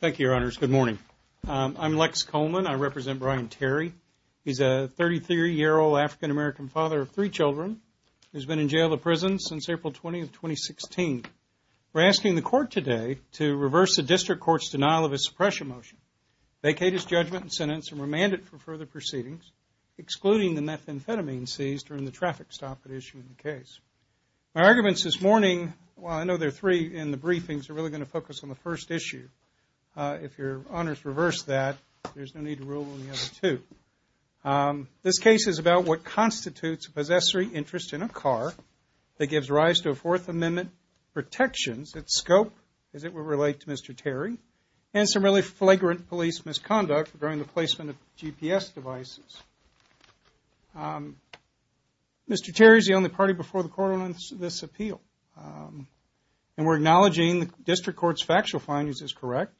Thank you, Your Honors. Good morning. I'm Lex Coleman. I represent Brian Terry. He's a 33-year-old African-American father of three children, who's been in jail to prison since April 20, 2016. We're asking the court today to reverse the district court's denial of his suppression motion, vacate his judgment and sentence, and remand it for further proceedings, excluding the methamphetamine seized during the traffic stop at issue in the case. My arguments this morning, while I know there are three in the briefings, are really going to focus on the first issue. If Your Honors reverse that, there's no need to rule on the other two. This case is about what constitutes a possessory interest in a car that gives rise to a Fourth Amendment protections, its scope, as it would relate to Mr. Terry, and some really flagrant police misconduct during the placement of GPS devices. Mr. Terry is the only party before the court on this appeal, and we're acknowledging the district court's factual findings is correct.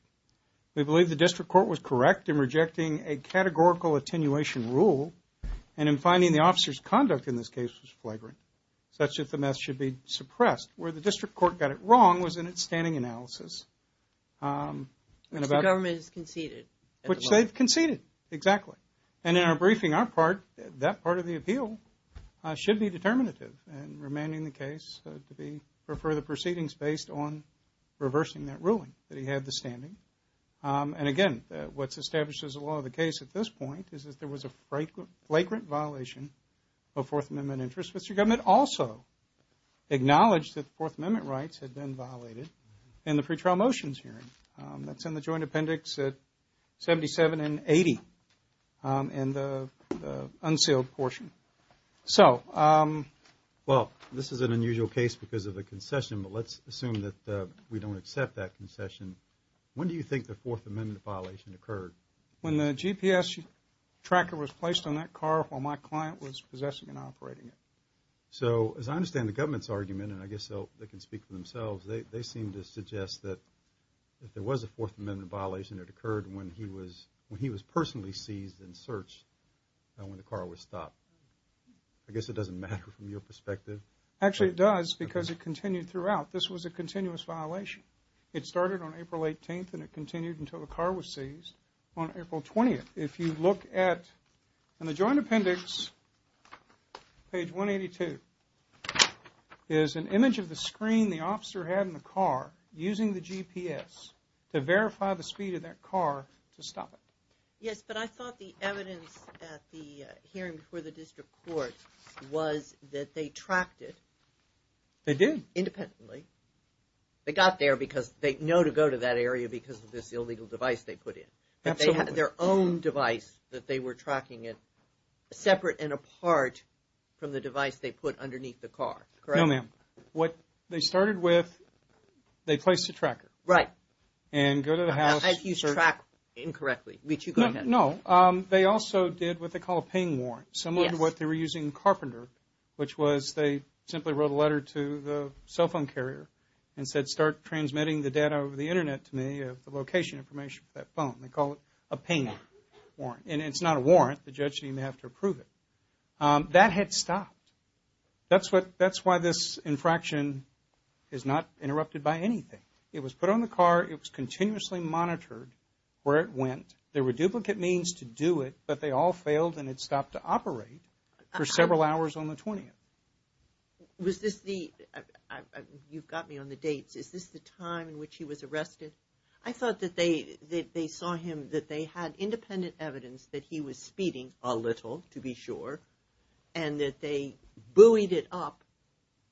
We believe the district court was correct in rejecting a categorical attenuation rule, and in finding the officer's conduct in this case was flagrant, such that the meth should be suppressed. Where the district court got it wrong was in its standing analysis. Mr. Government has conceded. Which they've conceded, exactly. And in our briefing, that part of the appeal should be determinative, and remanding the case for further proceedings based on reversing that ruling, that he had the standing. And again, what's established as a law of the case at this point is that there was a flagrant violation of Fourth Amendment interests. Mr. Government also acknowledged that the Fourth Amendment rights had been violated in the pretrial motions hearing. That's in the joint appendix at 77 and 80, in the unsealed portion. Well, this is an unusual case because of a concession, but let's assume that we don't accept that concession. When do you think the Fourth Amendment violation occurred? When the GPS tracker was placed on that car while my client was possessing and operating it. So, as I understand the government's argument, and I guess they can speak for themselves, they seem to suggest that there was a Fourth Amendment violation that occurred when he was personally seized and searched when the car was stopped. I guess it doesn't matter from your perspective. Actually, it does because it continued throughout. This was a continuous violation. It started on April 18th and it continued until the car was seized on April 20th. If you look at, in the joint appendix, page 182, is an image of the screen the officer had in the car using the GPS to verify the speed of that car to stop it. Yes, but I thought the evidence at the hearing for the district court was that they tracked it. They did. Independently. They got there because they know to go to that area because of this illegal device they put in. Absolutely. So, they had their own device that they were tracking it, separate and apart from the device they put underneath the car, correct? No, ma'am. What they started with, they placed a tracker. Right. And go to the house. I've used track incorrectly. No, no. They also did what they call a ping warrant. Yes. Similar to what they were using in Carpenter, which was they simply wrote a letter to the cell phone carrier and said start transmitting the data over the Internet to me of the location information for that phone. They call it a ping warrant. And it's not a warrant. The judge didn't even have to approve it. That had stopped. That's why this infraction is not interrupted by anything. It was put on the car. It was continuously monitored where it went. There were duplicate means to do it, but they all failed and it stopped to operate for several hours on the 20th. Was this the, you've got me on the dates, is this the time in which he was arrested? I thought that they saw him, that they had independent evidence that he was speeding a little, to be sure, and that they buoyed it up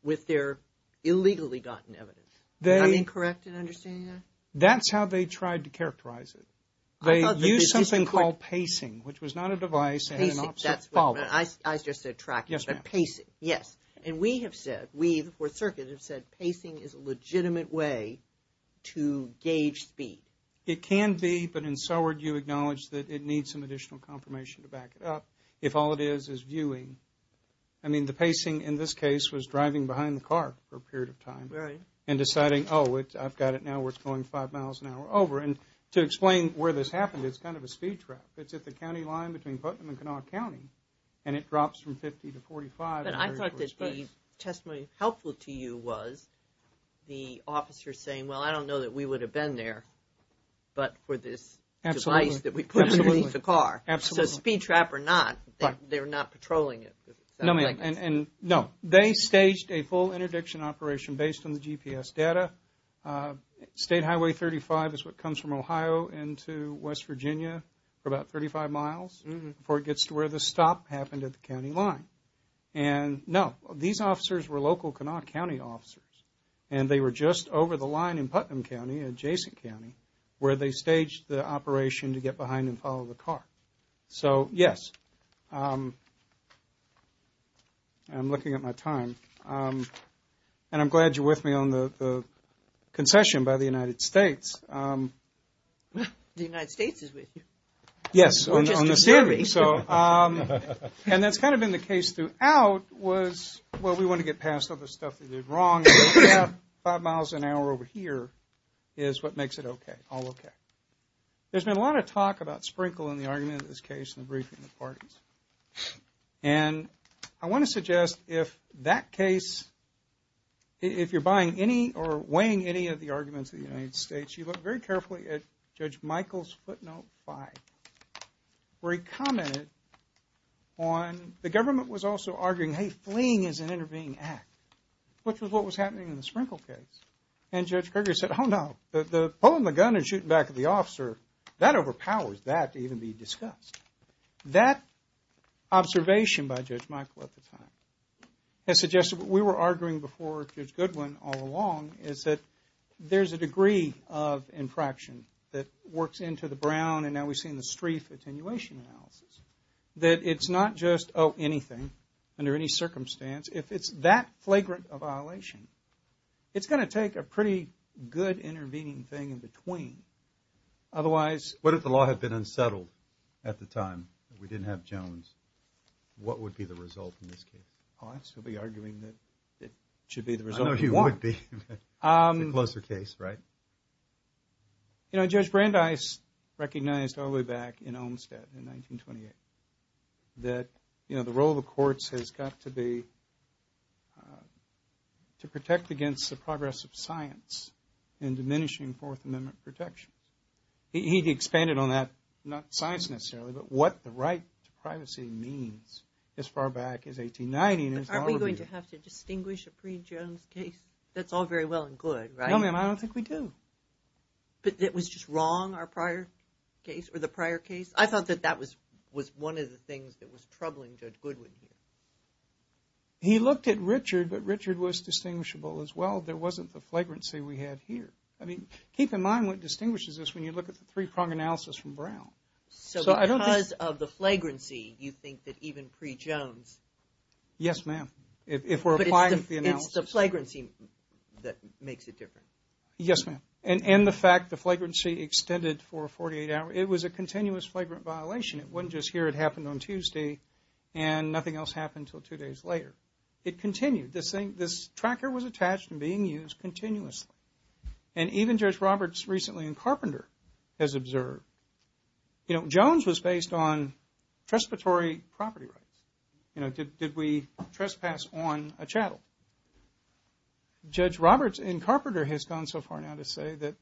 with their illegally gotten evidence. Am I correct in understanding that? That's how they tried to characterize it. They used something called pacing, which was not a device and an opposite follower. I just said tracking, but pacing. Yes. And we have said, we, the Fourth Circuit, have said pacing is a legitimate way to gauge speed. It can be, but in Soward you acknowledge that it needs some additional confirmation to back it up if all it is is viewing. I mean, the pacing in this case was driving behind the car for a period of time. Right. And deciding, oh, I've got it now where it's going five miles an hour over. And to explain where this happened, it's kind of a speed trap. It's at the county line between Putnam and Kanawha County, and it drops from 50 to 45. I thought that the testimony helpful to you was the officer saying, well, I don't know that we would have been there, but for this device that we put underneath the car. Absolutely. So speed trap or not, they're not patrolling it. No, they staged a full interdiction operation based on the GPS data. State Highway 35 is what comes from Ohio into West Virginia for about 35 miles before it gets to where the stop happened at the county line. And, no, these officers were local Kanawha County officers. And they were just over the line in Putnam County, adjacent county, where they staged the operation to get behind and follow the car. So, yes, I'm looking at my time. And I'm glad you're with me on the concession by the United States. The United States is with you. Yes, on the steering. And that's kind of been the case throughout was, well, we want to get past all the stuff that they did wrong. Five miles an hour over here is what makes it okay, all okay. There's been a lot of talk about Sprinkle in the argument of this case and the briefing of the parties. And I want to suggest if that case, if you're buying any or weighing any of the arguments of the United States, you look very carefully at Judge Michael's footnote five. Where he commented on the government was also arguing, hey, fleeing is an intervening act, which was what was happening in the Sprinkle case. And Judge Kruger said, oh, no, the pulling the gun and shooting back at the officer, that overpowers that to even be discussed. That observation by Judge Michael at the time has suggested what we were arguing before Judge Goodwin all along is that there's a degree of infraction that works into the brown. And now we've seen the Streiff attenuation analysis. That it's not just, oh, anything under any circumstance. If it's that flagrant a violation, it's going to take a pretty good intervening thing in between. Otherwise. What if the law had been unsettled at the time? If we didn't have Jones, what would be the result in this case? Oh, I'd still be arguing that it should be the result of one. I know you would be. It's a closer case, right? You know, Judge Brandeis recognized all the way back in Olmstead in 1928 that the role of the courts has got to be to protect against the progress of science and diminishing Fourth Amendment protections. He expanded on that, not science necessarily, but what the right to privacy means as far back as 1890. Aren't we going to have to distinguish a pre-Jones case? That's all very well and good, right? No, ma'am, I don't think we do. But it was just wrong, our prior case, or the prior case? I thought that that was one of the things that was troubling Judge Goodwin here. He looked at Richard, but Richard was distinguishable as well. There wasn't the flagrancy we had here. I mean, keep in mind what distinguishes us when you look at the three-prong analysis from Brown. So because of the flagrancy, you think that even pre-Jones. Yes, ma'am. But it's the flagrancy that makes it different. Yes, ma'am. And the fact the flagrancy extended for 48 hours. It was a continuous flagrant violation. It wasn't just here. It happened on Tuesday, and nothing else happened until two days later. It continued. This tracker was attached and being used continuously. And even Judge Roberts recently in Carpenter has observed. You know, Jones was based on trespassory property rights. You know, did we trespass on a chattel? Judge Roberts in Carpenter has gone so far now to say that,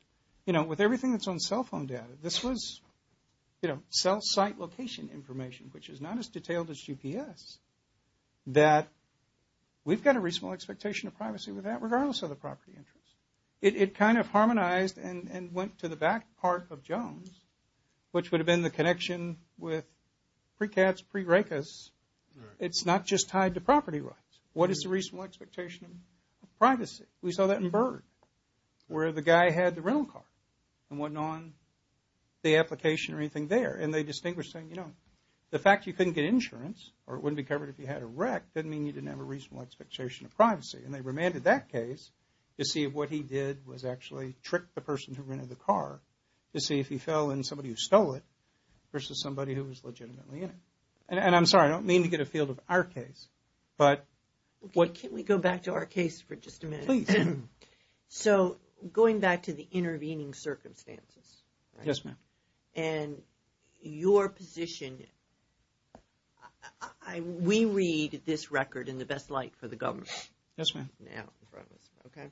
you know, with everything that's on cell phone data, this was, you know, cell site location information, which is not as detailed as GPS, that we've got a reasonable expectation of privacy with that, regardless of the property interest. It kind of harmonized and went to the back part of Jones, which would have been the connection with pre-CATS, pre-RACAS. It's not just tied to property rights. What is the reasonable expectation of privacy? We saw that in Byrd, where the guy had the rental car and went on the application or anything there. And they distinguished saying, you know, the fact you couldn't get insurance or it wouldn't be covered if you had a wreck, doesn't mean you didn't have a reasonable expectation of privacy. And they remanded that case to see if what he did was actually trick the person who rented the car to see if he fell in somebody who stole it versus somebody who was legitimately in it. And I'm sorry, I don't mean to get afield of our case, but what... Can we go back to our case for just a minute? Please. So going back to the intervening circumstances. Yes, ma'am. And your position, we read this record in the best light for the government. Yes, ma'am. Okay.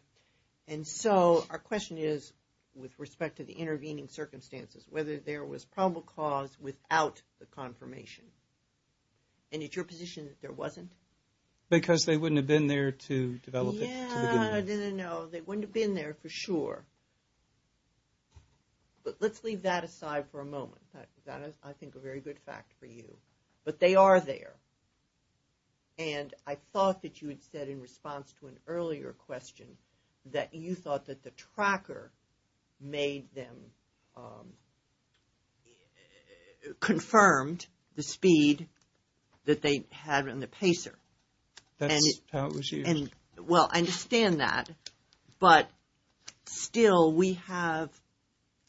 And so our question is, with respect to the intervening circumstances, whether there was probable cause without the confirmation. And it's your position that there wasn't? Because they wouldn't have been there to develop it. Yeah, no, they wouldn't have been there for sure. But let's leave that aside for a moment. That is, I think, a very good fact for you. But they are there. And I thought that you had said in response to an earlier question that you thought that the tracker made them confirmed the speed that they had on the pacer. That's how it was used. Well, I understand that, but still we have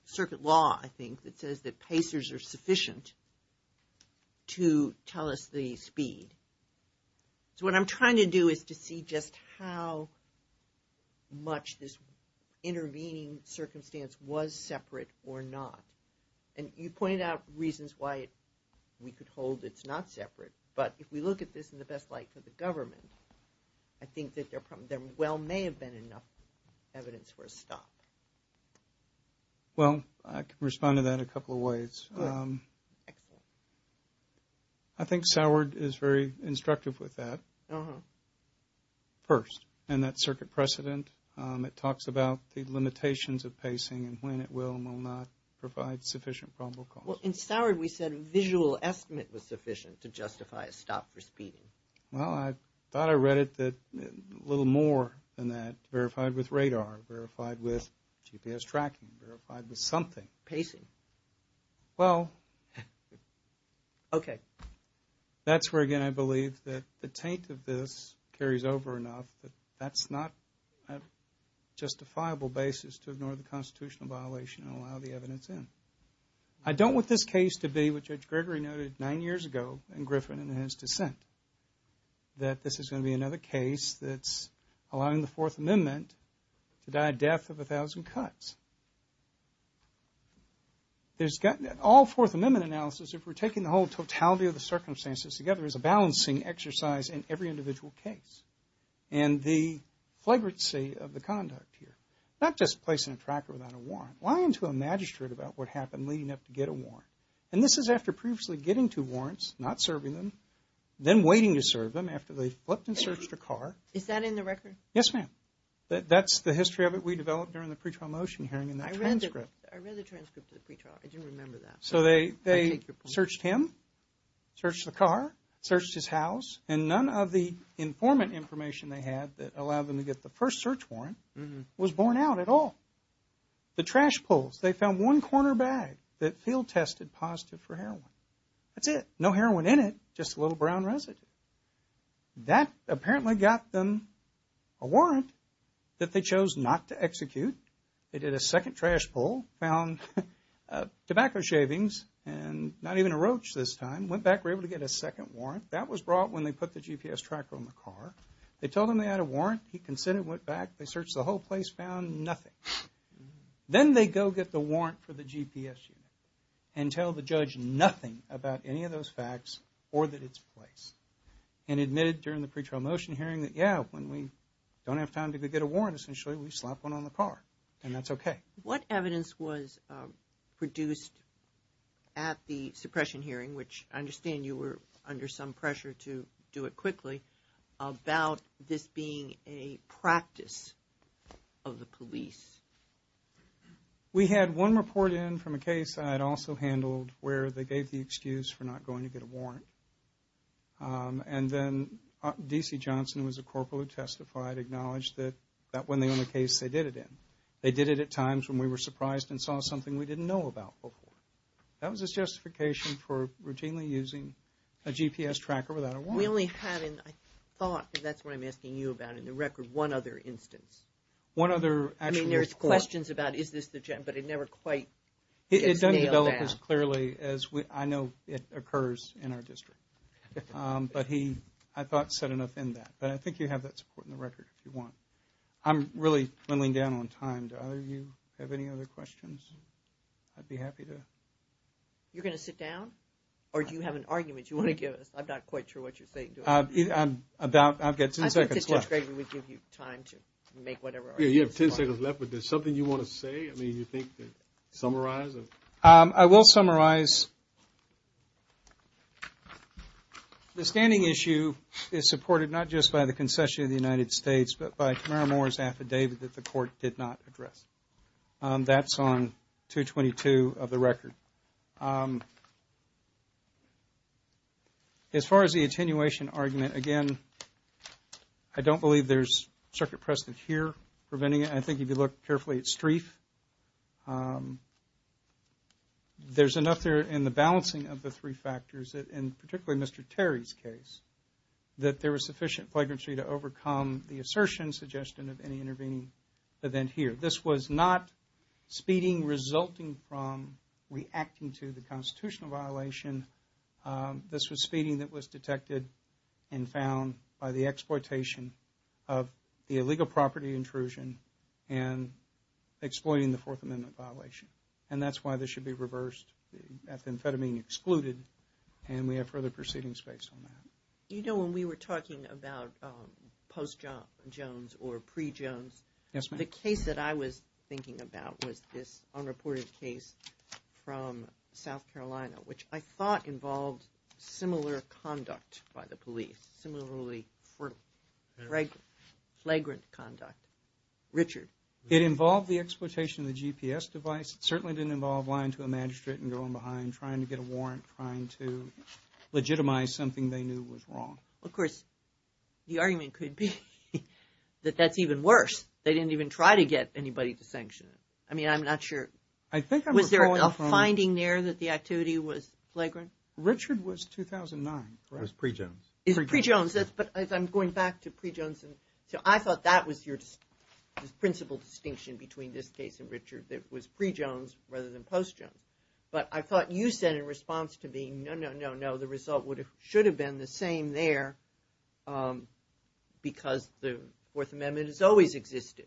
circuit law, I think, that says that pacers are sufficient to tell us the speed. So what I'm trying to do is to see just how much this intervening circumstance was separate or not. And you pointed out reasons why we could hold it's not separate. But if we look at this in the best light for the government, I think that there well may have been enough evidence for a stop. Well, I can respond to that a couple of ways. Excellent. I think SOWARD is very instructive with that. First, in that circuit precedent, it talks about the limitations of pacing and when it will and will not provide sufficient probable cause. Well, in SOWARD we said visual estimate was sufficient to justify a stop for speeding. Well, I thought I read it that a little more than that, verified with radar, verified with GPS tracking, verified with something. Pacing. Well. Okay. That's where, again, I believe that the taint of this carries over enough that that's not a justifiable basis to ignore the constitutional violation and allow the evidence in. I don't want this case to be, which Judge Gregory noted nine years ago in Griffin and his dissent, that this is going to be another case that's allowing the Fourth Amendment to die a death of a thousand cuts. All Fourth Amendment analysis, if we're taking the whole totality of the circumstances together, is a balancing exercise in every individual case. And the flagrancy of the conduct here, not just placing a tracker without a warrant, lying to a magistrate about what happened leading up to get a warrant. And this is after previously getting two warrants, not serving them, then waiting to serve them after they flipped and searched a car. Is that in the record? Yes, ma'am. That's the history of it we developed during the pre-trial motion hearing and the transcript. I read the transcript of the pre-trial. I didn't remember that. So they searched him, searched the car, searched his house, and none of the informant information they had that allowed them to get the first search warrant was borne out at all. The trash pulls. They found one corner bag that field tested positive for heroin. That's it. No heroin in it, just a little brown residue. That apparently got them a warrant that they chose not to execute. They did a second trash pull, found tobacco shavings and not even a roach this time, went back, were able to get a second warrant. That was brought when they put the GPS tracker on the car. They told him they had a warrant. He consented and went back. They searched the whole place, found nothing. Then they go get the warrant for the GPS unit and tell the judge nothing about any of those facts or that it's placed and admitted during the pre-trial motion hearing that, yeah, when we don't have time to go get a warrant, essentially we slap one on the car and that's okay. What evidence was produced at the suppression hearing, which I understand you were under some pressure to do it quickly, about this being a practice of the police? We had one report in from a case I had also handled where they gave the excuse for not going to get a warrant. And then D.C. Johnson, who was a corporal who testified, acknowledged that that wasn't the only case they did it in. They did it at times when we were surprised and saw something we didn't know about before. That was a justification for routinely using a GPS tracker without a warrant. We only had in, I thought, because that's what I'm asking you about, in the record, one other instance. One other actual report. I mean, there's questions about is this the, but it never quite gets nailed down. It doesn't develop as clearly as I know it occurs in our district. But he, I thought, said enough in that. But I think you have that support in the record if you want. I'm really dwindling down on time. Do either of you have any other questions? I'd be happy to. You're going to sit down? Or do you have an argument you want to give us? I'm not quite sure what you're saying. I've got ten seconds left. I think Judge Gregory would give you time to make whatever argument you want. Yeah, you have ten seconds left. But is there something you want to say? I mean, do you think to summarize? I will summarize. The standing issue is supported not just by the concession of the United States, but by Tamara Moore's affidavit that the court did not address. That's on 222 of the record. As far as the attenuation argument, again, I don't believe there's circuit precedent here preventing it. I think if you look carefully at Streiff, there's enough there in the balancing of the three factors, and particularly Mr. Terry's case, that there was sufficient flagrancy to overcome the assertion, suggestion of any intervening event here. This was not speeding resulting from reacting to the constitutional violation. This was speeding that was detected and found by the exploitation of the illegal property intrusion and exploiting the Fourth Amendment violation. And that's why this should be reversed, the amphetamine excluded, and we have further proceedings based on that. You know, when we were talking about post-Jones or pre-Jones, the case that I was thinking about was this unreported case from South Carolina, which I thought involved similar conduct by the police, similarly flagrant conduct. Richard? It involved the exploitation of the GPS device. It certainly didn't involve lying to a magistrate and going behind, trying to get a warrant, trying to legitimize something they knew was wrong. Of course, the argument could be that that's even worse. They didn't even try to get anybody to sanction it. I mean, I'm not sure. Was there a finding there that the activity was flagrant? Richard was 2009, right? It was pre-Jones. It was pre-Jones. But I'm going back to pre-Jones. So I thought that was your principal distinction between this case and Richard, that it was pre-Jones rather than post-Jones. But I thought you said in response to being no, no, no, no, that the result should have been the same there because the Fourth Amendment has always existed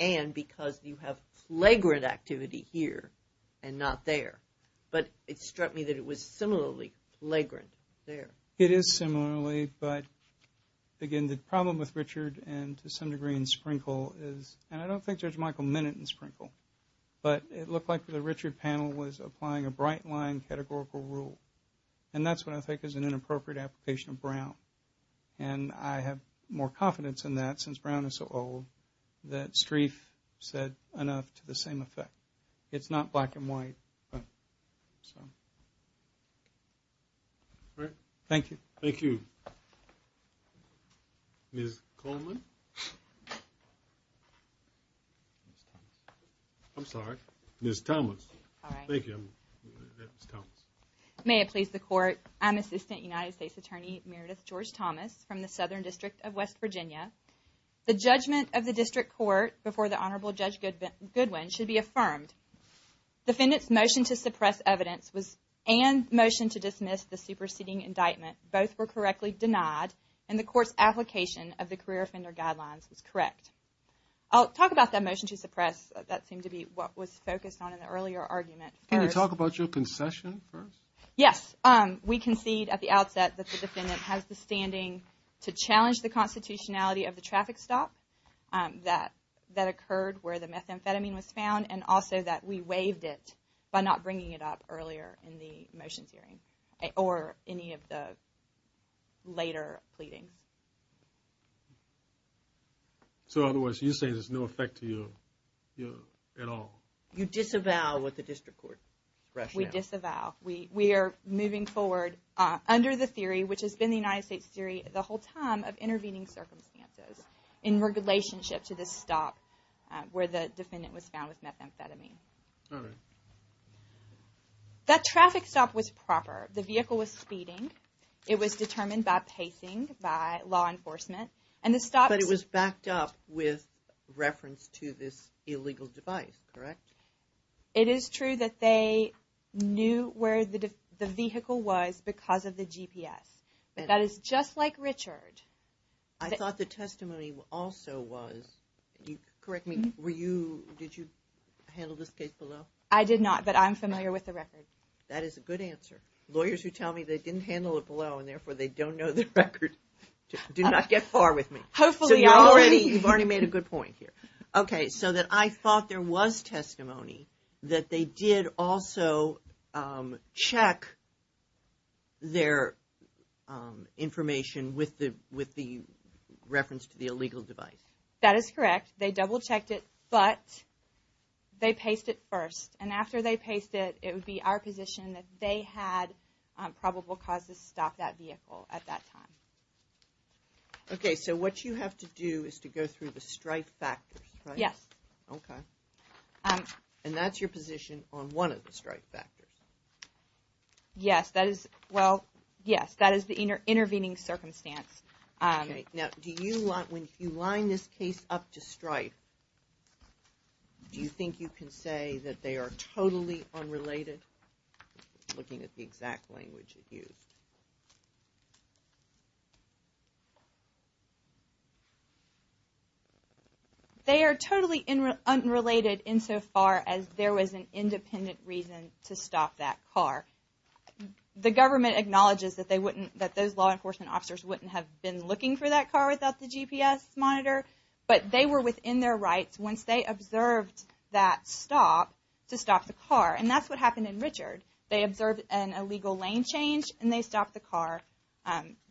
and because you have flagrant activity here and not there. But it struck me that it was similarly flagrant there. It is similarly, but, again, the problem with Richard and to some degree in Sprinkle is, and I don't think Judge Michael Minut in Sprinkle, but it looked like the Richard panel was applying a bright line categorical rule, and that's what I think is an inappropriate application of Brown. And I have more confidence in that since Brown is so old that Streiff said enough to the same effect. It's not black and white. Thank you. Thank you. Ms. Coleman? I'm sorry. Ms. Thomas. Hi. Thank you. Ms. Thomas. May it please the Court, I'm Assistant United States Attorney Meredith George-Thomas from the Southern District of West Virginia. The judgment of the District Court before the Honorable Judge Goodwin should be affirmed. Defendant's motion to suppress evidence and motion to dismiss the superseding indictment both were correctly denied, and the Court's application of the career offender guidelines was correct. I'll talk about that motion to suppress. That seemed to be what was focused on in the earlier argument. Can you talk about your concession first? Yes. We concede at the outset that the defendant has the standing to challenge the constitutionality of the traffic stop that occurred where the methamphetamine was found, and also that we waived it by not bringing it up earlier in the motions hearing or any of the later pleadings. So, in other words, you're saying there's no effect to you at all? You disavow what the District Court rationale. We disavow. We are moving forward under the theory, which has been the United States theory the whole time, of intervening circumstances in relationship to the stop where the defendant was found with methamphetamine. All right. That traffic stop was proper. The vehicle was speeding. It was determined by pacing by law enforcement. But it was backed up with reference to this illegal device, correct? It is true that they knew where the vehicle was because of the GPS. That is just like Richard. I thought the testimony also was. Correct me. Did you handle this case below? I did not, but I'm familiar with the record. That is a good answer. Lawyers who tell me they didn't handle it below and therefore they don't know the record do not get far with me. Hopefully. You've already made a good point here. Okay, so I thought there was testimony that they did also check their information with the reference to the illegal device. That is correct. They double-checked it, but they paced it first. And after they paced it, it would be our position that they had probable cause to stop that vehicle at that time. Okay, so what you have to do is to go through the strife factors, right? Yes. Okay. And that's your position on one of the strife factors? Yes, that is the intervening circumstance. Now, when you line this case up to strife, do you think you can say that they are totally unrelated, looking at the exact language you used? They are totally unrelated insofar as there was an independent reason to stop that car. The government acknowledges that those law enforcement officers wouldn't have been looking for that car without the GPS monitor, but they were within their rights once they observed that stop to stop the car. And that's what happened in Richard. They observed an illegal lane change, and they stopped the car.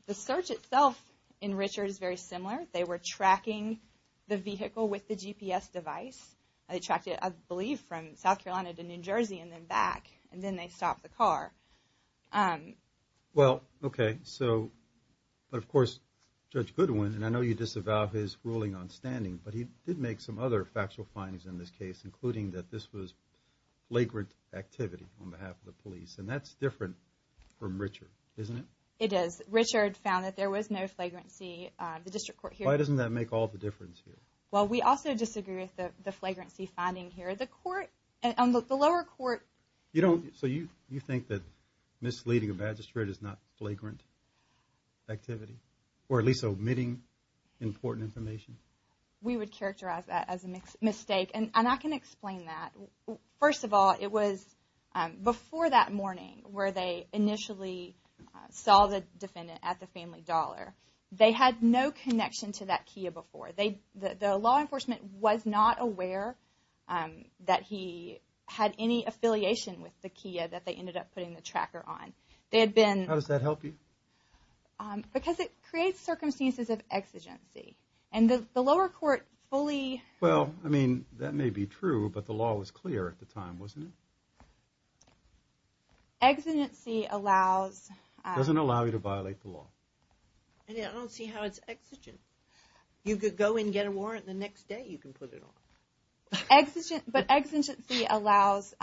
The search itself in Richard is very similar. They were tracking the vehicle with the GPS device. They tracked it, I believe, from South Carolina to New Jersey and then back, and then they stopped the car. Well, okay. But, of course, Judge Goodwin, and I know you disavow his ruling on standing, but he did make some other factual findings in this case, including that this was flagrant activity on behalf of the police, and that's different from Richard, isn't it? It is. Richard found that there was no flagrancy. The district court here… Why doesn't that make all the difference here? Well, we also disagree with the flagrancy finding here. The lower court… So you think that misleading a magistrate is not flagrant activity, or at least omitting important information? We would characterize that as a mistake, and I can explain that. First of all, it was before that morning where they initially saw the defendant at the Family Dollar. They had no connection to that Kia before. The law enforcement was not aware that he had any affiliation with the Kia that they ended up putting the tracker on. How does that help you? Because it creates circumstances of exigency, and the lower court fully… Well, I mean, that may be true, but the law was clear at the time, wasn't it? Exigency allows… Doesn't allow you to violate the law. I don't see how it's exigent. You could go and get a warrant, and the next day you can put it on. But exigency allows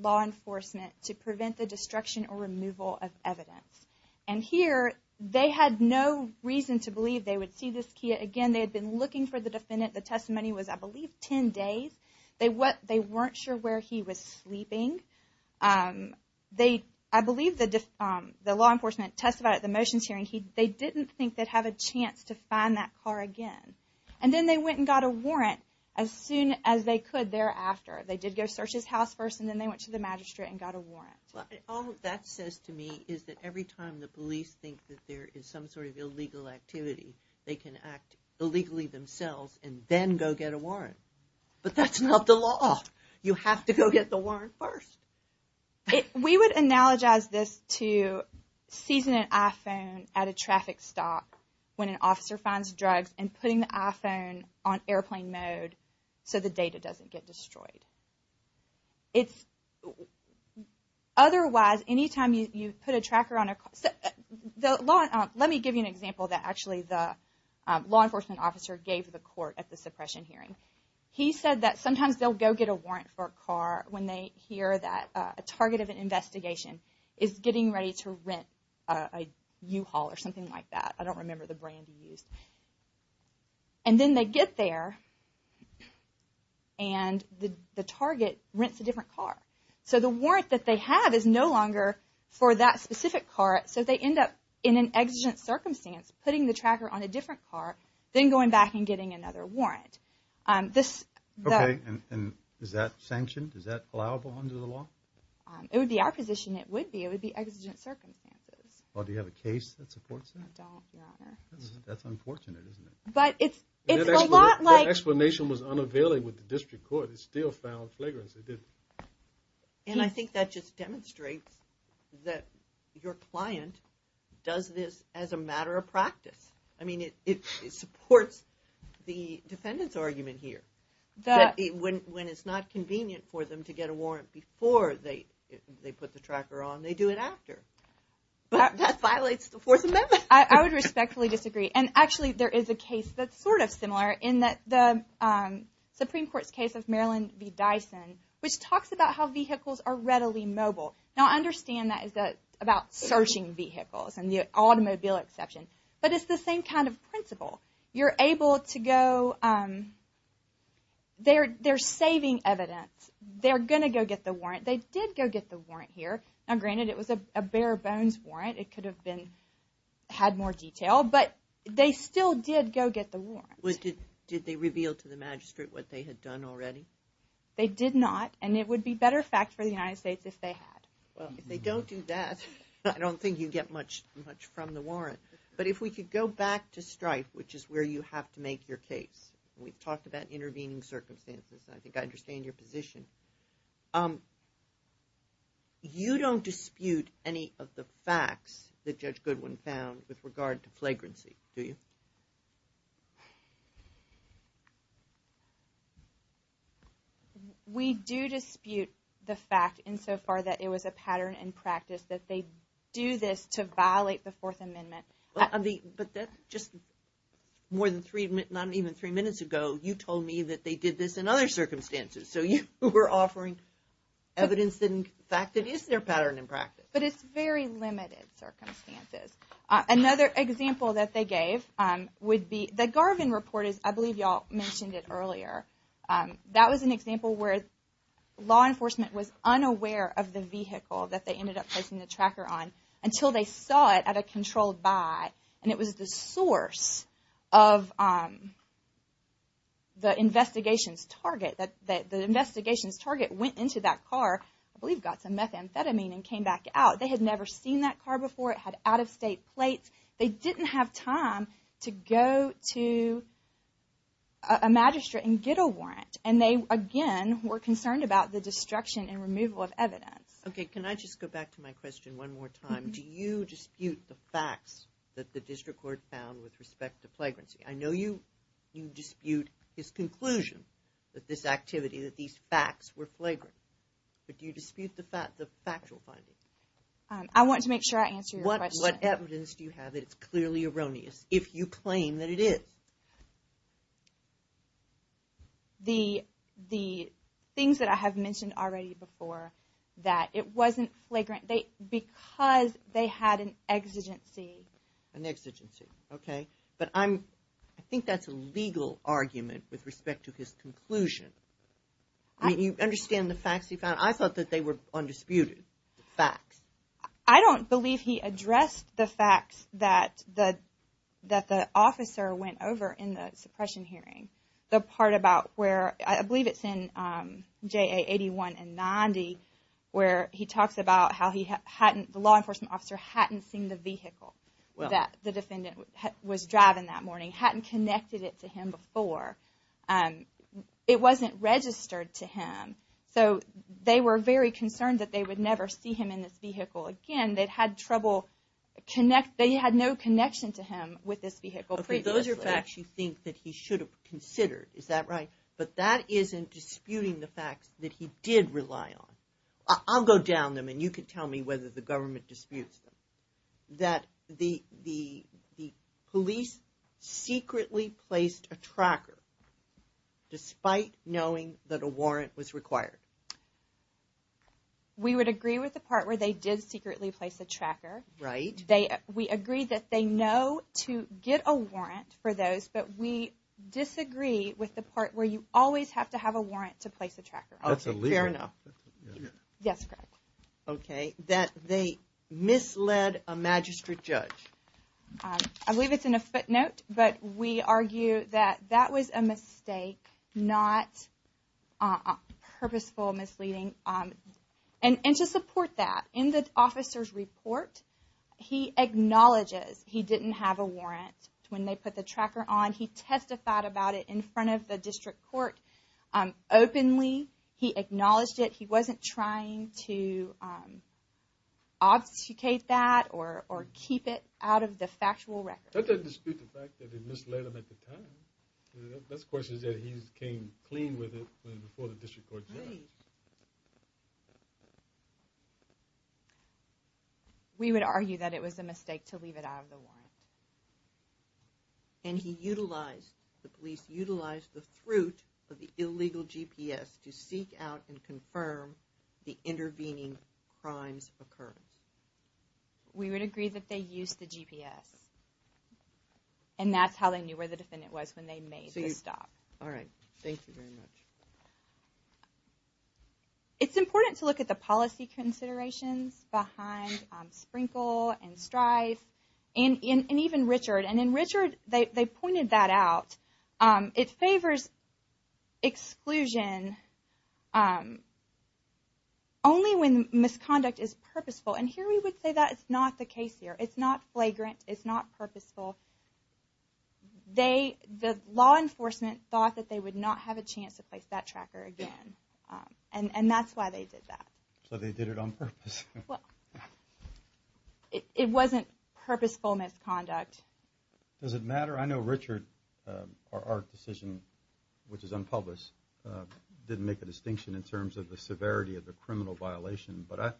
law enforcement to prevent the destruction or removal of evidence. And here, they had no reason to believe they would see this Kia. Again, they had been looking for the defendant. The testimony was, I believe, 10 days. They weren't sure where he was sleeping. I believe the law enforcement testified at the motions hearing. They didn't think they'd have a chance to find that car again. And then they went and got a warrant as soon as they could thereafter. They did go search his house first, and then they went to the magistrate and got a warrant. All that says to me is that every time the police think that there is some sort of illegal activity, they can act illegally themselves and then go get a warrant. But that's not the law. You have to go get the warrant first. We would analogize this to seizing an iPhone at a traffic stop when an officer finds drugs and putting the iPhone on airplane mode so the data doesn't get destroyed. Otherwise, any time you put a tracker on a car – let me give you an example that actually the law enforcement officer gave the court at the suppression hearing. a target of an investigation is getting ready to rent a U-Haul or something like that. I don't remember the brand he used. And then they get there, and the target rents a different car. So the warrant that they have is no longer for that specific car, so they end up in an exigent circumstance putting the tracker on a different car, then going back and getting another warrant. Okay, and is that sanctioned? Is that allowable under the law? It would be our position it would be. It would be exigent circumstances. Well, do you have a case that supports that? I don't, Your Honor. That's unfortunate, isn't it? But it's a lot like – That explanation was unavailable with the district court. It's still found flagrantly. And I think that just demonstrates that your client does this as a matter of practice. I mean, it supports the defendant's argument here that when it's not convenient for them to get a warrant before they put the tracker on, they do it after. That violates the Fourth Amendment. I would respectfully disagree. And actually, there is a case that's sort of similar in that the Supreme Court's case of Marilyn v. Dyson, which talks about how vehicles are readily mobile. Now, I understand that is about searching vehicles and the automobile exception. But it's the same kind of principle. You're able to go – they're saving evidence. They're going to go get the warrant. They did go get the warrant here. Now, granted, it was a bare-bones warrant. It could have been – had more detail. But they still did go get the warrant. Did they reveal to the magistrate what they had done already? They did not. And it would be better fact for the United States if they had. Well, if they don't do that, I don't think you get much from the warrant. But if we could go back to Strife, which is where you have to make your case. We've talked about intervening circumstances. I think I understand your position. You don't dispute any of the facts that Judge Goodwin found with regard to flagrancy, do you? We do dispute the fact insofar that it was a pattern in practice that they do this to violate the Fourth Amendment. But that's just more than three – not even three minutes ago, you told me that they did this in other circumstances. So you were offering evidence that, in fact, it is their pattern in practice. But it's very limited circumstances. Another example that they gave would be – the Garvin report is – I believe you all mentioned it earlier. That was an example where law enforcement was unaware of the vehicle that they ended up placing the tracker on until they saw it at a controlled buy. And it was the source of the investigation's target. The investigation's target went into that car, I believe got some methamphetamine and came back out. They had never seen that car before. It had out-of-state plates. They didn't have time to go to a magistrate and get a warrant. And they, again, were concerned about the destruction and removal of evidence. Okay. Can I just go back to my question one more time? Do you dispute the facts that the district court found with respect to flagrancy? I know you dispute his conclusion that this activity, that these facts were flagrant. But do you dispute the factual findings? I want to make sure I answer your question. What evidence do you have that it's clearly erroneous if you claim that it is? The things that I have mentioned already before, that it wasn't flagrant, because they had an exigency. An exigency. Okay. But I think that's a legal argument with respect to his conclusion. Do you understand the facts he found? I thought that they were undisputed, the facts. I don't believe he addressed the facts that the officer went over in the suppression hearing. The part about where, I believe it's in JA 81 and 90, where he talks about how the law enforcement officer hadn't seen the vehicle that the defendant was driving that morning, hadn't connected it to him before. It wasn't registered to him. So they were very concerned that they would never see him in this vehicle again. They had no connection to him with this vehicle previously. Those are facts you think that he should have considered, is that right? But that isn't disputing the facts that he did rely on. I'll go down them, and you can tell me whether the government disputes them. That the police secretly placed a tracker despite knowing that a warrant was required. We would agree with the part where they did secretly place a tracker. Right. We agree that they know to get a warrant for those, but we disagree with the part where you always have to have a warrant to place a tracker. That's illegal. Fair enough. Yes, Craig. That they misled a magistrate judge. I believe it's in a footnote, but we argue that that was a mistake, not purposeful misleading. And to support that, in the officer's report, he acknowledges he didn't have a warrant when they put the tracker on. He testified about it in front of the district court openly. He acknowledged it. He wasn't trying to obfuscate that or keep it out of the factual record. That doesn't dispute the fact that they misled him at the time. The best question is that he came clean with it before the district court did. Right. We would argue that it was a mistake to leave it out of the warrant. And he utilized, the police utilized the fruit of the illegal GPS to seek out and confirm the intervening crimes occurrence. We would agree that they used the GPS. And that's how they knew where the defendant was when they made the stop. All right. Thank you very much. It's important to look at the policy considerations behind Sprinkle and Strife. And even Richard. And in Richard, they pointed that out. It favors exclusion only when misconduct is purposeful. And here we would say that is not the case here. It's not flagrant. It's not purposeful. The law enforcement thought that they would not have a chance to place that tracker again. And that's why they did that. So they did it on purpose. Well, it wasn't purposeful misconduct. Does it matter? I know Richard, our decision, which is unpublished, didn't make a distinction in terms of the severity of the criminal violation. But I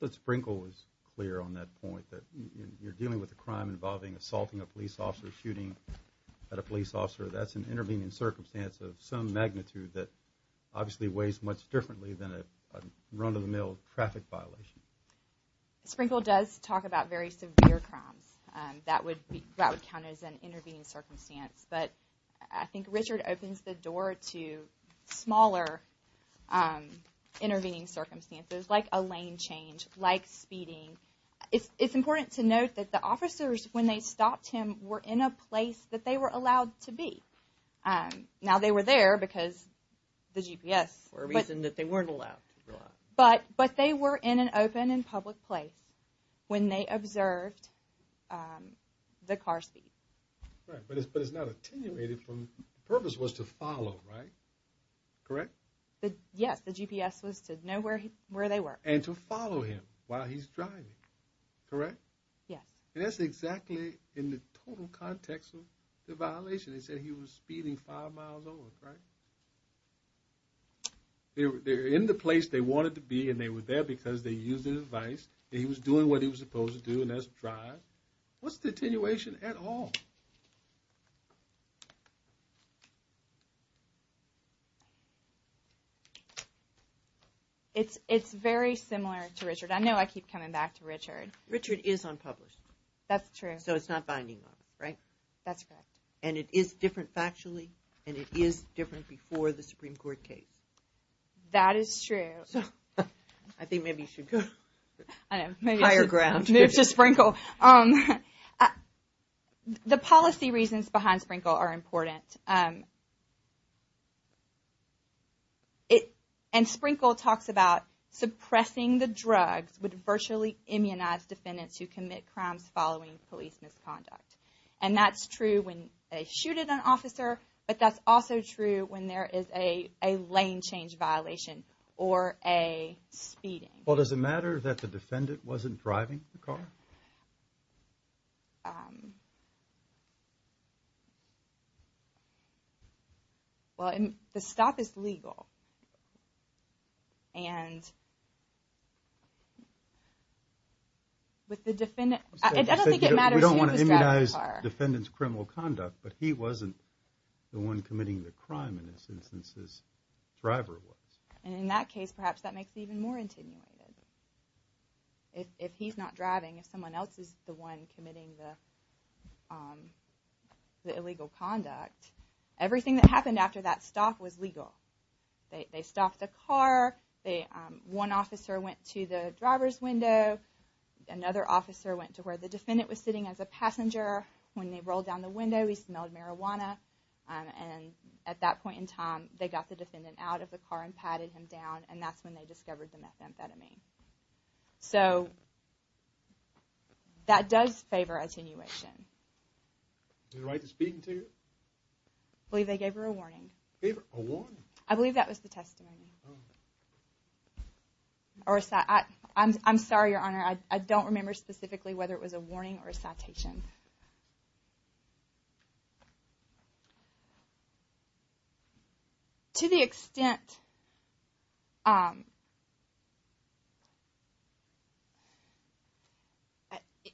thought Sprinkle was clear on that point, that you're dealing with a crime involving assaulting a police officer, shooting at a police officer. That's an intervening circumstance of some magnitude that obviously weighs much differently than a run-of-the-mill traffic violation. Sprinkle does talk about very severe crimes. That would count as an intervening circumstance. But I think Richard opens the door to smaller intervening circumstances, like a lane change, like speeding. It's important to note that the officers, when they stopped him, were in a place that they were allowed to be. Now they were there because the GPS. For a reason that they weren't allowed. But they were in an open and public place when they observed the car speed. Right, but it's not attenuated from purpose was to follow, right? Correct? Yes, the GPS was to know where they were. And to follow him while he's driving, correct? Yes. And that's exactly in the total context of the violation. They said he was speeding five miles over, right? They're in the place they wanted to be, and they were there because they used the device. He was doing what he was supposed to do, and that's drive. What's the attenuation at all? It's very similar to Richard. I know I keep coming back to Richard. Richard is unpublished. That's true. So it's not binding on him, right? That's correct. And it is different factually, and it is different before the Supreme Court case. That is true. I think maybe you should go to higher ground. Maybe to Sprinkle. The policy reasons behind Sprinkle are important. And Sprinkle talks about suppressing the drugs with virtually immunized defendants who commit crimes following police misconduct. And that's true when they shoot at an officer, but that's also true when there is a lane change violation or a speeding. Well, does it matter that the defendant wasn't driving the car? Well, the stop is legal. We don't want to immunize defendants' criminal conduct, but he wasn't the one committing the crime in this instance. His driver was. And in that case, perhaps that makes it even more intimidating. If he's not driving, if someone else is the one committing the illegal conduct, everything that happened after that stop was legal. They stopped the car. One officer went to the driver's window. Another officer went to where the defendant was sitting as a passenger. When they rolled down the window, he smelled marijuana. And at that point in time, they got the defendant out of the car and patted him down, and that's when they discovered the methamphetamine. So that does favor attenuation. Did they write the speeding ticket? I believe they gave her a warning. A warning? I believe that was the testimony. I'm sorry, Your Honor. I don't remember specifically whether it was a warning or a citation. To the extent –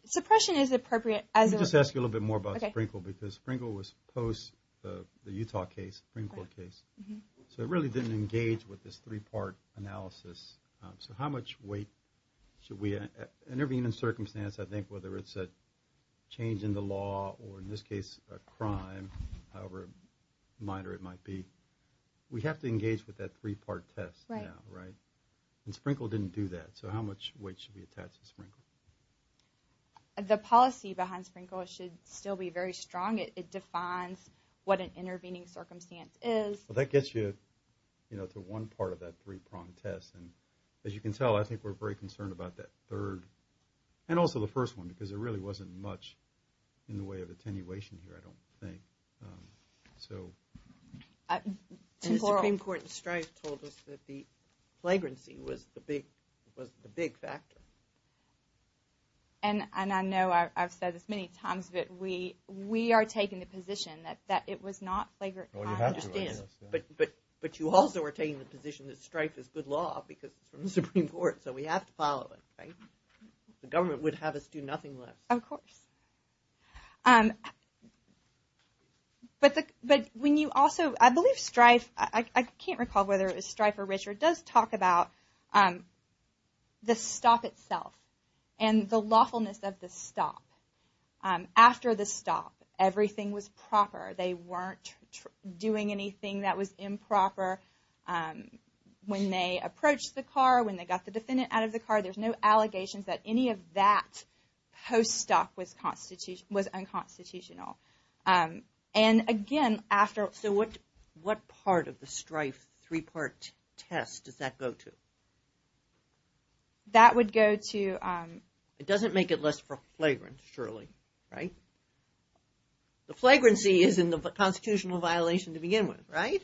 suppression is appropriate as a – Let me just ask you a little bit more about Sprinkle, because Sprinkle was post the Utah case, the Sprinkle case. So it really didn't engage with this three-part analysis. So how much weight should we – in every given circumstance, I think, whether it's a change in the law or, in this case, a crime, however minor it might be, we have to engage with that three-part test now, right? And Sprinkle didn't do that. So how much weight should we attach to Sprinkle? The policy behind Sprinkle should still be very strong. It defines what an intervening circumstance is. Well, that gets you to one part of that three-prong test. And as you can tell, I think we're very concerned about that third and also the first one because there really wasn't much in the way of attenuation here, I don't think. So – The Supreme Court in Strife told us that the flagrancy was the big factor. And I know I've said this many times, but we are taking the position that it was not flagrant crime. Well, you have to, I guess, yeah. But you also are taking the position that Strife is good law because it's from the Supreme Court, so we have to follow it, right? The government would have us do nothing less. Of course. But when you also – I believe Strife – I can't recall whether it was Strife or Richard – does talk about the stop itself and the lawfulness of the stop. After the stop, everything was proper. They weren't doing anything that was improper when they approached the car, when they got the defendant out of the car. There's no allegations that any of that post-stop was unconstitutional. And again, after – So what part of the Strife three-part test does that go to? That would go to – It doesn't make it less flagrant, surely, right? The flagrancy is in the constitutional violation to begin with, right?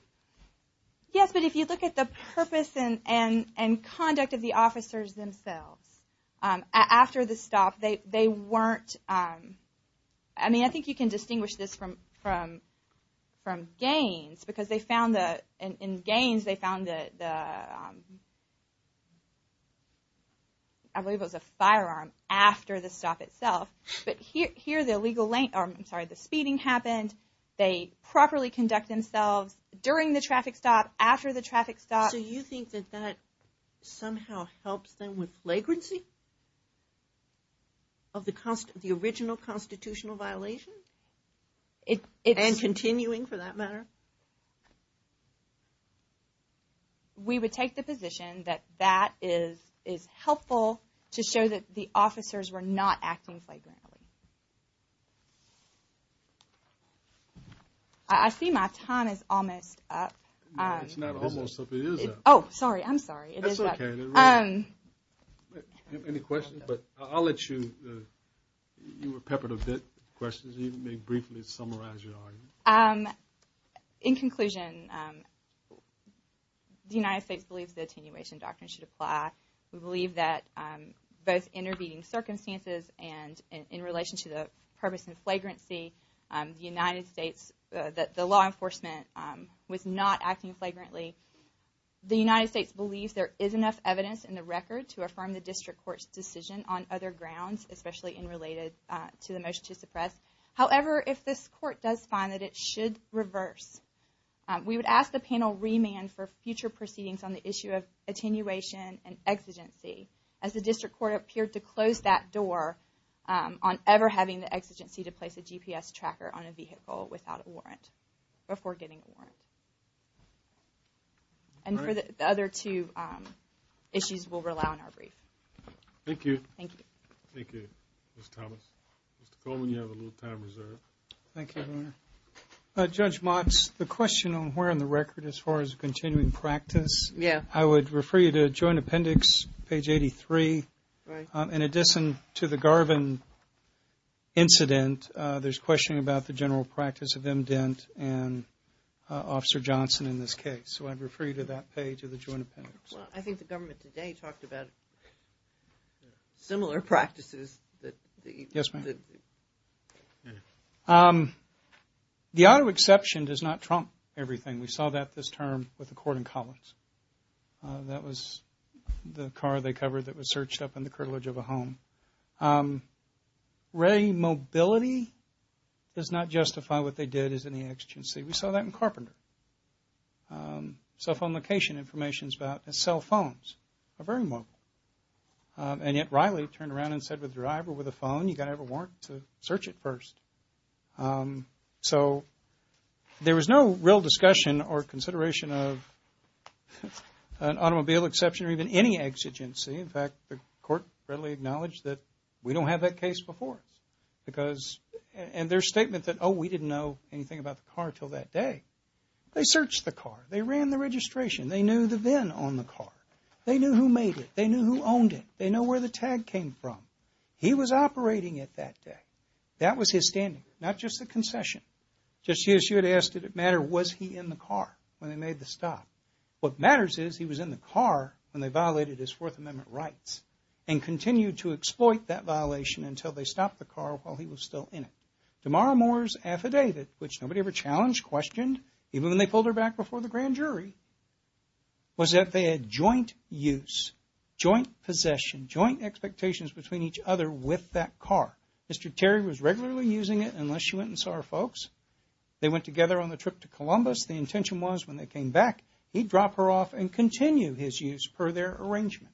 Yes, but if you look at the purpose and conduct of the officers themselves after the stop, they weren't – I mean, I think you can distinguish this from Gaines because they found that – in Gaines, they found the – I believe it was a firearm after the stop itself. But here, the illegal lane – I'm sorry, the speeding happened. They properly conduct themselves during the traffic stop, after the traffic stop. So you think that that somehow helps them with flagrancy of the original constitutional violation? And continuing, for that matter? We would take the position that that is helpful to show that the officers were not acting flagrantly. I see my time is almost up. No, it's not almost up. It is up. Oh, sorry. I'm sorry. It is up. That's okay. Do you have any questions? But I'll let you – you were peppered a bit with questions. You may briefly summarize your argument. In conclusion, the United States believes the attenuation doctrine should apply. We believe that both intervening circumstances and in relation to the purpose and flagrancy, the United States – that the law enforcement was not acting flagrantly. The United States believes there is enough evidence in the record to affirm the district court's decision on other grounds, especially in related to the motion to suppress. However, if this court does find that it should reverse, we would ask the panel remand for future proceedings on the issue of attenuation and exigency, as the district court appeared to close that door on ever having the exigency to place a GPS tracker on a vehicle without a warrant before getting a warrant. And for the other two issues, we'll rely on our brief. Thank you. Thank you. Thank you, Ms. Thomas. Mr. Coleman, you have a little time reserved. Thank you, Governor. Judge Motz, the question on where in the record as far as continuing practice. Yeah. I would refer you to Joint Appendix, page 83. Right. In addition to the Garvin incident, there's questioning about the general practice of Mdent and Officer Johnson in this case. So I'd refer you to that page of the Joint Appendix. Well, I think the government today talked about similar practices. Yes, ma'am. The auto exception does not trump everything. We saw that this term with the court in Collins. That was the car they covered that was searched up in the curtilage of a home. Ray mobility does not justify what they did as an exigency. We saw that in Carpenter. Cell phone location information is about cell phones. They're very mobile. And yet Riley turned around and said with a driver, with a phone, you've got to have a warrant to search it first. So there was no real discussion or consideration of an automobile exception or even any exigency. In fact, the court readily acknowledged that we don't have that case before us. And their statement that, oh, we didn't know anything about the car until that day. They searched the car. They ran the registration. They knew the VIN on the car. They knew who made it. They knew who owned it. They know where the tag came from. He was operating it that day. That was his standing, not just the concession. Just as you had asked, did it matter, was he in the car when they made the stop? What matters is he was in the car when they violated his Fourth Amendment rights and continued to exploit that violation until they stopped the car while he was still in it. Damara Moore's affidavit, which nobody ever challenged, questioned, even when they pulled her back before the grand jury, was that they had joint use, joint possession, joint expectations between each other with that car. Mr. Terry was regularly using it unless she went and saw her folks. They went together on the trip to Columbus. The intention was when they came back, he'd drop her off and continue his use per their arrangement.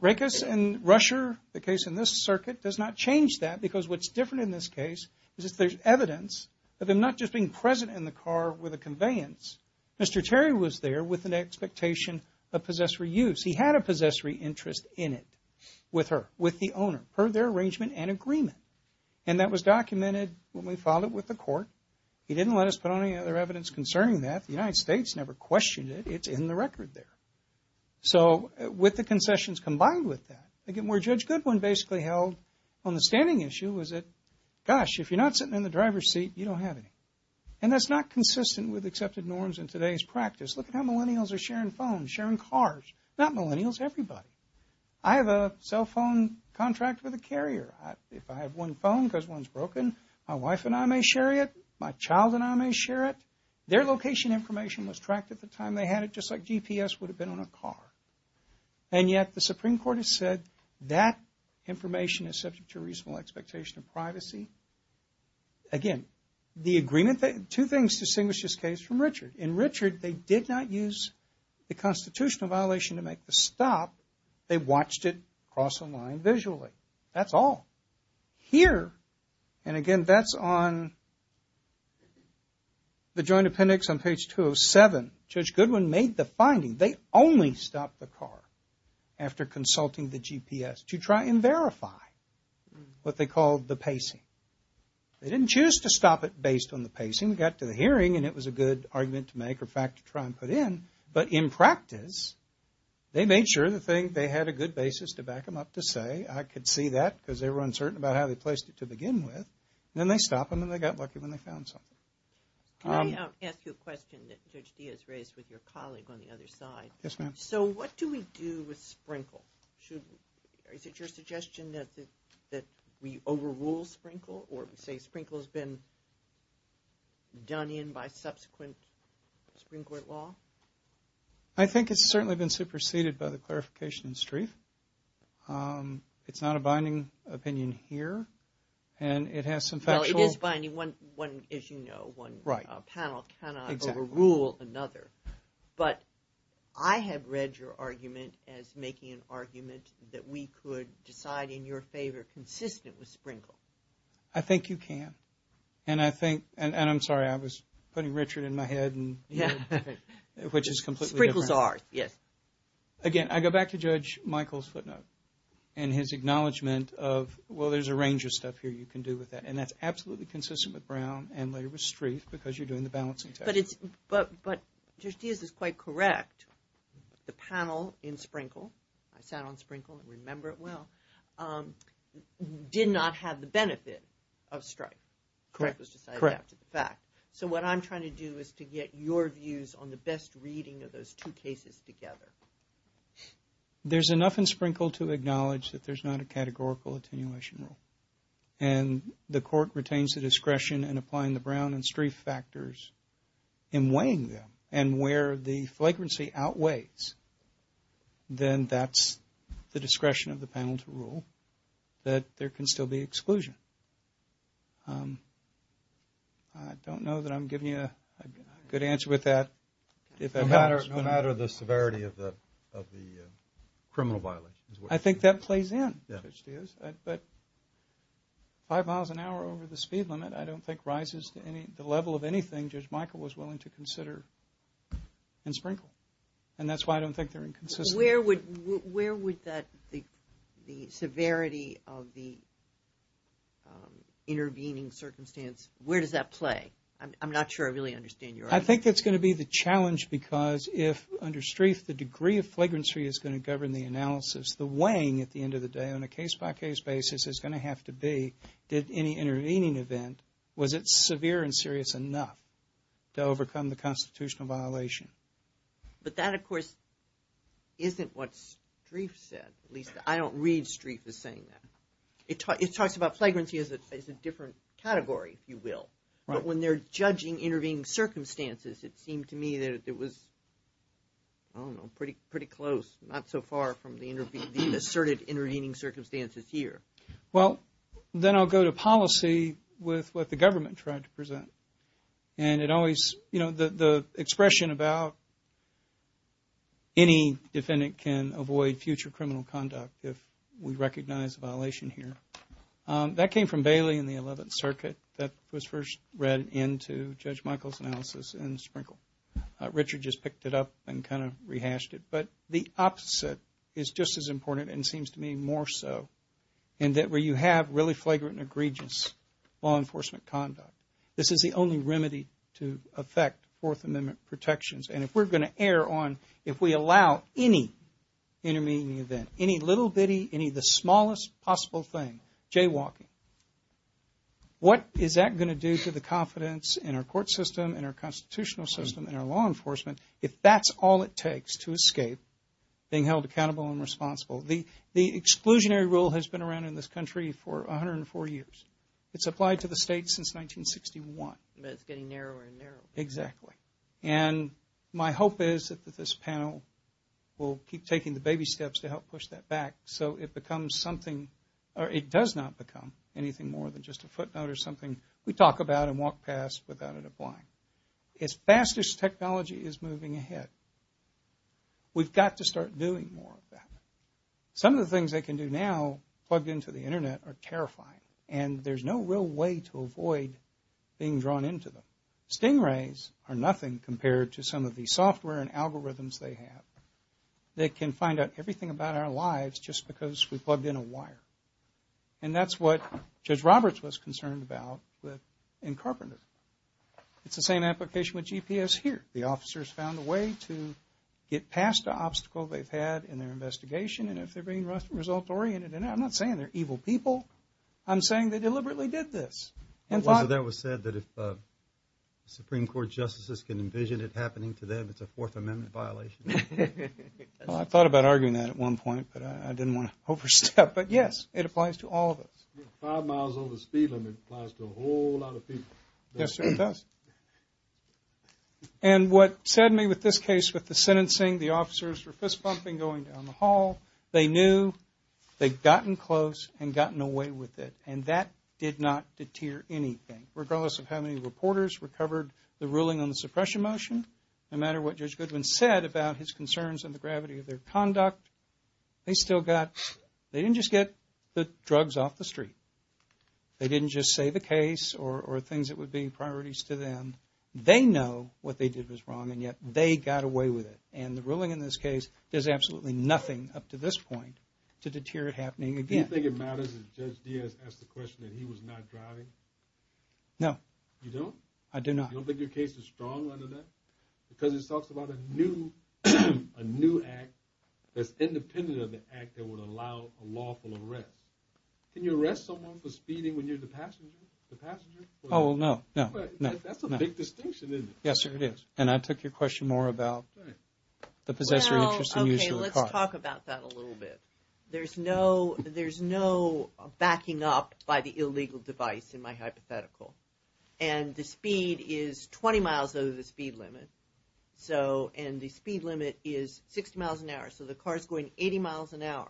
Rekas and Rusher, the case in this circuit, does not change that because what's different in this case is that there's evidence of them not just being present in the car with a conveyance. Mr. Terry was there with an expectation of possessory use. He had a possessory interest in it with her, with the owner, per their arrangement and agreement. And that was documented when we filed it with the court. He didn't let us put on any other evidence concerning that. The United States never questioned it. It's in the record there. So with the concessions combined with that, again, where Judge Goodwin basically held on the standing issue was that, gosh, if you're not sitting in the driver's seat, you don't have any. And that's not consistent with accepted norms in today's practice. Look at how millennials are sharing phones, sharing cars. Not millennials, everybody. I have a cell phone contract with a carrier. If I have one phone because one's broken, my wife and I may share it. My child and I may share it. Their location information was tracked at the time they had it just like GPS would have been on a car. And yet the Supreme Court has said that information is subject to reasonable expectation of privacy. Again, the agreement, two things distinguish this case from Richard. In Richard, they did not use the constitutional violation to make the stop. They watched it cross the line visually. That's all. Here, and again, that's on the joint appendix on page 207. Judge Goodwin made the finding. They only stopped the car after consulting the GPS to try and verify what they called the pacing. They didn't choose to stop it based on the pacing. We got to the hearing, and it was a good argument to make or fact to try and put in. But in practice, they made sure they had a good basis to back them up to say, I could see that because they were uncertain about how they placed it to begin with. Then they stopped them, and they got lucky when they found something. Can I ask you a question that Judge Diaz raised with your colleague on the other side? Yes, ma'am. So what do we do with Sprinkle? Is it your suggestion that we overrule Sprinkle or say Sprinkle has been done in by subsequent Supreme Court law? I think it's certainly been superseded by the clarification in Streiff. It's not a binding opinion here, and it has some factual— One panel cannot overrule another. But I have read your argument as making an argument that we could decide in your favor consistent with Sprinkle. I think you can. And I'm sorry, I was putting Richard in my head, which is completely different. Sprinkle's ours, yes. Again, I go back to Judge Michael's footnote and his acknowledgement of, well, there's a range of stuff here you can do with that. And that's absolutely consistent with Brown and later with Streiff because you're doing the balancing test. But Judge Diaz is quite correct. The panel in Sprinkle, I sat on Sprinkle and remember it well, did not have the benefit of Streiff. Correct was decided after the fact. So what I'm trying to do is to get your views on the best reading of those two cases together. There's enough in Sprinkle to acknowledge that there's not a categorical attenuation rule. And the court retains the discretion in applying the Brown and Streiff factors in weighing them. And where the flagrancy outweighs, then that's the discretion of the panel to rule that there can still be exclusion. I don't know that I'm giving you a good answer with that. No matter the severity of the criminal violation. I think that plays in, Judge Diaz. But five miles an hour over the speed limit, I don't think rises to the level of anything Judge Michael was willing to consider in Sprinkle. And that's why I don't think they're inconsistent. Where would the severity of the intervening circumstance, where does that play? I'm not sure I really understand your argument. I think that's going to be the challenge because if, under Streiff, the degree of flagrancy is going to govern the analysis, the weighing at the end of the day on a case-by-case basis is going to have to be, did any intervening event, was it severe and serious enough to overcome the constitutional violation? But that, of course, isn't what Streiff said. At least I don't read Streiff as saying that. It talks about flagrancy as a different category, if you will. But when they're judging intervening circumstances, it seemed to me that it was, I don't know, pretty close. Not so far from the asserted intervening circumstances here. Well, then I'll go to policy with what the government tried to present. And it always, you know, the expression about any defendant can avoid future criminal conduct if we recognize a violation here. That came from Bailey in the 11th Circuit. That was first read into Judge Michael's analysis in Sprinkle. Richard just picked it up and kind of rehashed it. But the opposite is just as important and seems to me more so, in that where you have really flagrant and egregious law enforcement conduct. This is the only remedy to affect Fourth Amendment protections. And if we're going to err on, if we allow any intervening event, any little bitty, any of the smallest possible thing, jaywalking, what is that going to do to the confidence in our court system, in our constitutional system, in our law enforcement, if that's all it takes to escape being held accountable and responsible? The exclusionary rule has been around in this country for 104 years. It's applied to the state since 1961. But it's getting narrower and narrower. Exactly. And my hope is that this panel will keep taking the baby steps to help push that back so it becomes something, or it does not become anything more than just a footnote or something we talk about and walk past without it applying. As fast as technology is moving ahead, we've got to start doing more of that. Some of the things they can do now, plugged into the Internet, are terrifying. And there's no real way to avoid being drawn into them. Stingrays are nothing compared to some of the software and algorithms they have. They can find out everything about our lives just because we plugged in a wire. And that's what Judge Roberts was concerned about in Carpenter. It's the same application with GPS here. The officers found a way to get past the obstacle they've had in their investigation, and if they're being result-oriented, and I'm not saying they're evil people. I'm saying they deliberately did this. It was said that if Supreme Court justices can envision it happening to them, it's a Fourth Amendment violation. I thought about arguing that at one point, but I didn't want to overstep. But, yes, it applies to all of us. Five miles over the speed limit applies to a whole lot of people. Yes, sir, it does. And what saddened me with this case, with the sentencing, the officers were fist-pumping going down the hall. They knew, they'd gotten close, and gotten away with it, and that did not deter anything. Regardless of how many reporters recovered the ruling on the suppression motion, no matter what Judge Goodwin said about his concerns and the gravity of their conduct, they still got, they didn't just get the drugs off the street. They didn't just say the case or things that would be priorities to them. They know what they did was wrong, and yet they got away with it. And the ruling in this case does absolutely nothing up to this point to deter it happening again. Do you think it matters that Judge Diaz asked the question that he was not driving? No. You don't? I do not. You don't think your case is strong under that? Because it talks about a new act that's independent of the act that would allow a lawful arrest. Can you arrest someone for speeding when you're the passenger? Oh, no, no. That's a big distinction, isn't it? Yes, sir, it is. And I took your question more about the possessor interest in using a car. Well, okay, let's talk about that a little bit. There's no backing up by the illegal device in my hypothetical. And the speed is 20 miles over the speed limit. So, and the speed limit is 60 miles an hour. So the car's going 80 miles an hour.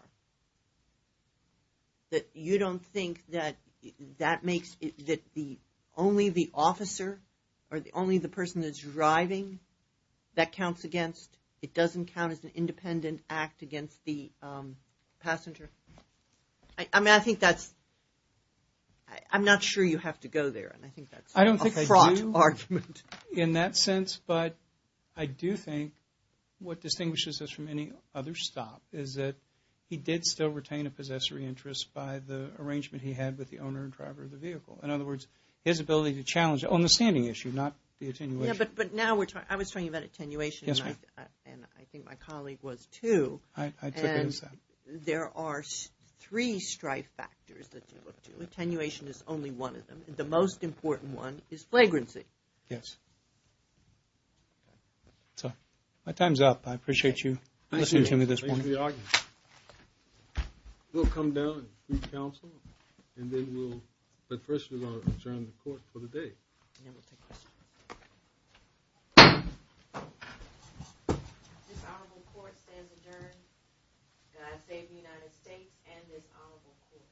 That you don't think that that makes it that only the officer or only the person that's driving, that counts against, it doesn't count as an independent act against the passenger? I mean, I think that's, I'm not sure you have to go there. And I think that's a fraught argument. I don't think I do in that sense. Yes, but I do think what distinguishes us from any other stop is that he did still retain a possessory interest by the arrangement he had with the owner and driver of the vehicle. In other words, his ability to challenge, on the standing issue, not the attenuation. Yeah, but now we're talking, I was talking about attenuation. Yes, ma'am. And I think my colleague was too. I took it as that. And there are three strife factors that you look to. Attenuation is only one of them. The most important one is flagrancy. Yes. So, my time's up. I appreciate you listening to me at this point. Thank you for the argument. We'll come down and seek counsel. And then we'll, but first we're going to adjourn the court for the day. And then we'll take questions. This honorable court stands adjourned. God save the United States and this honorable court.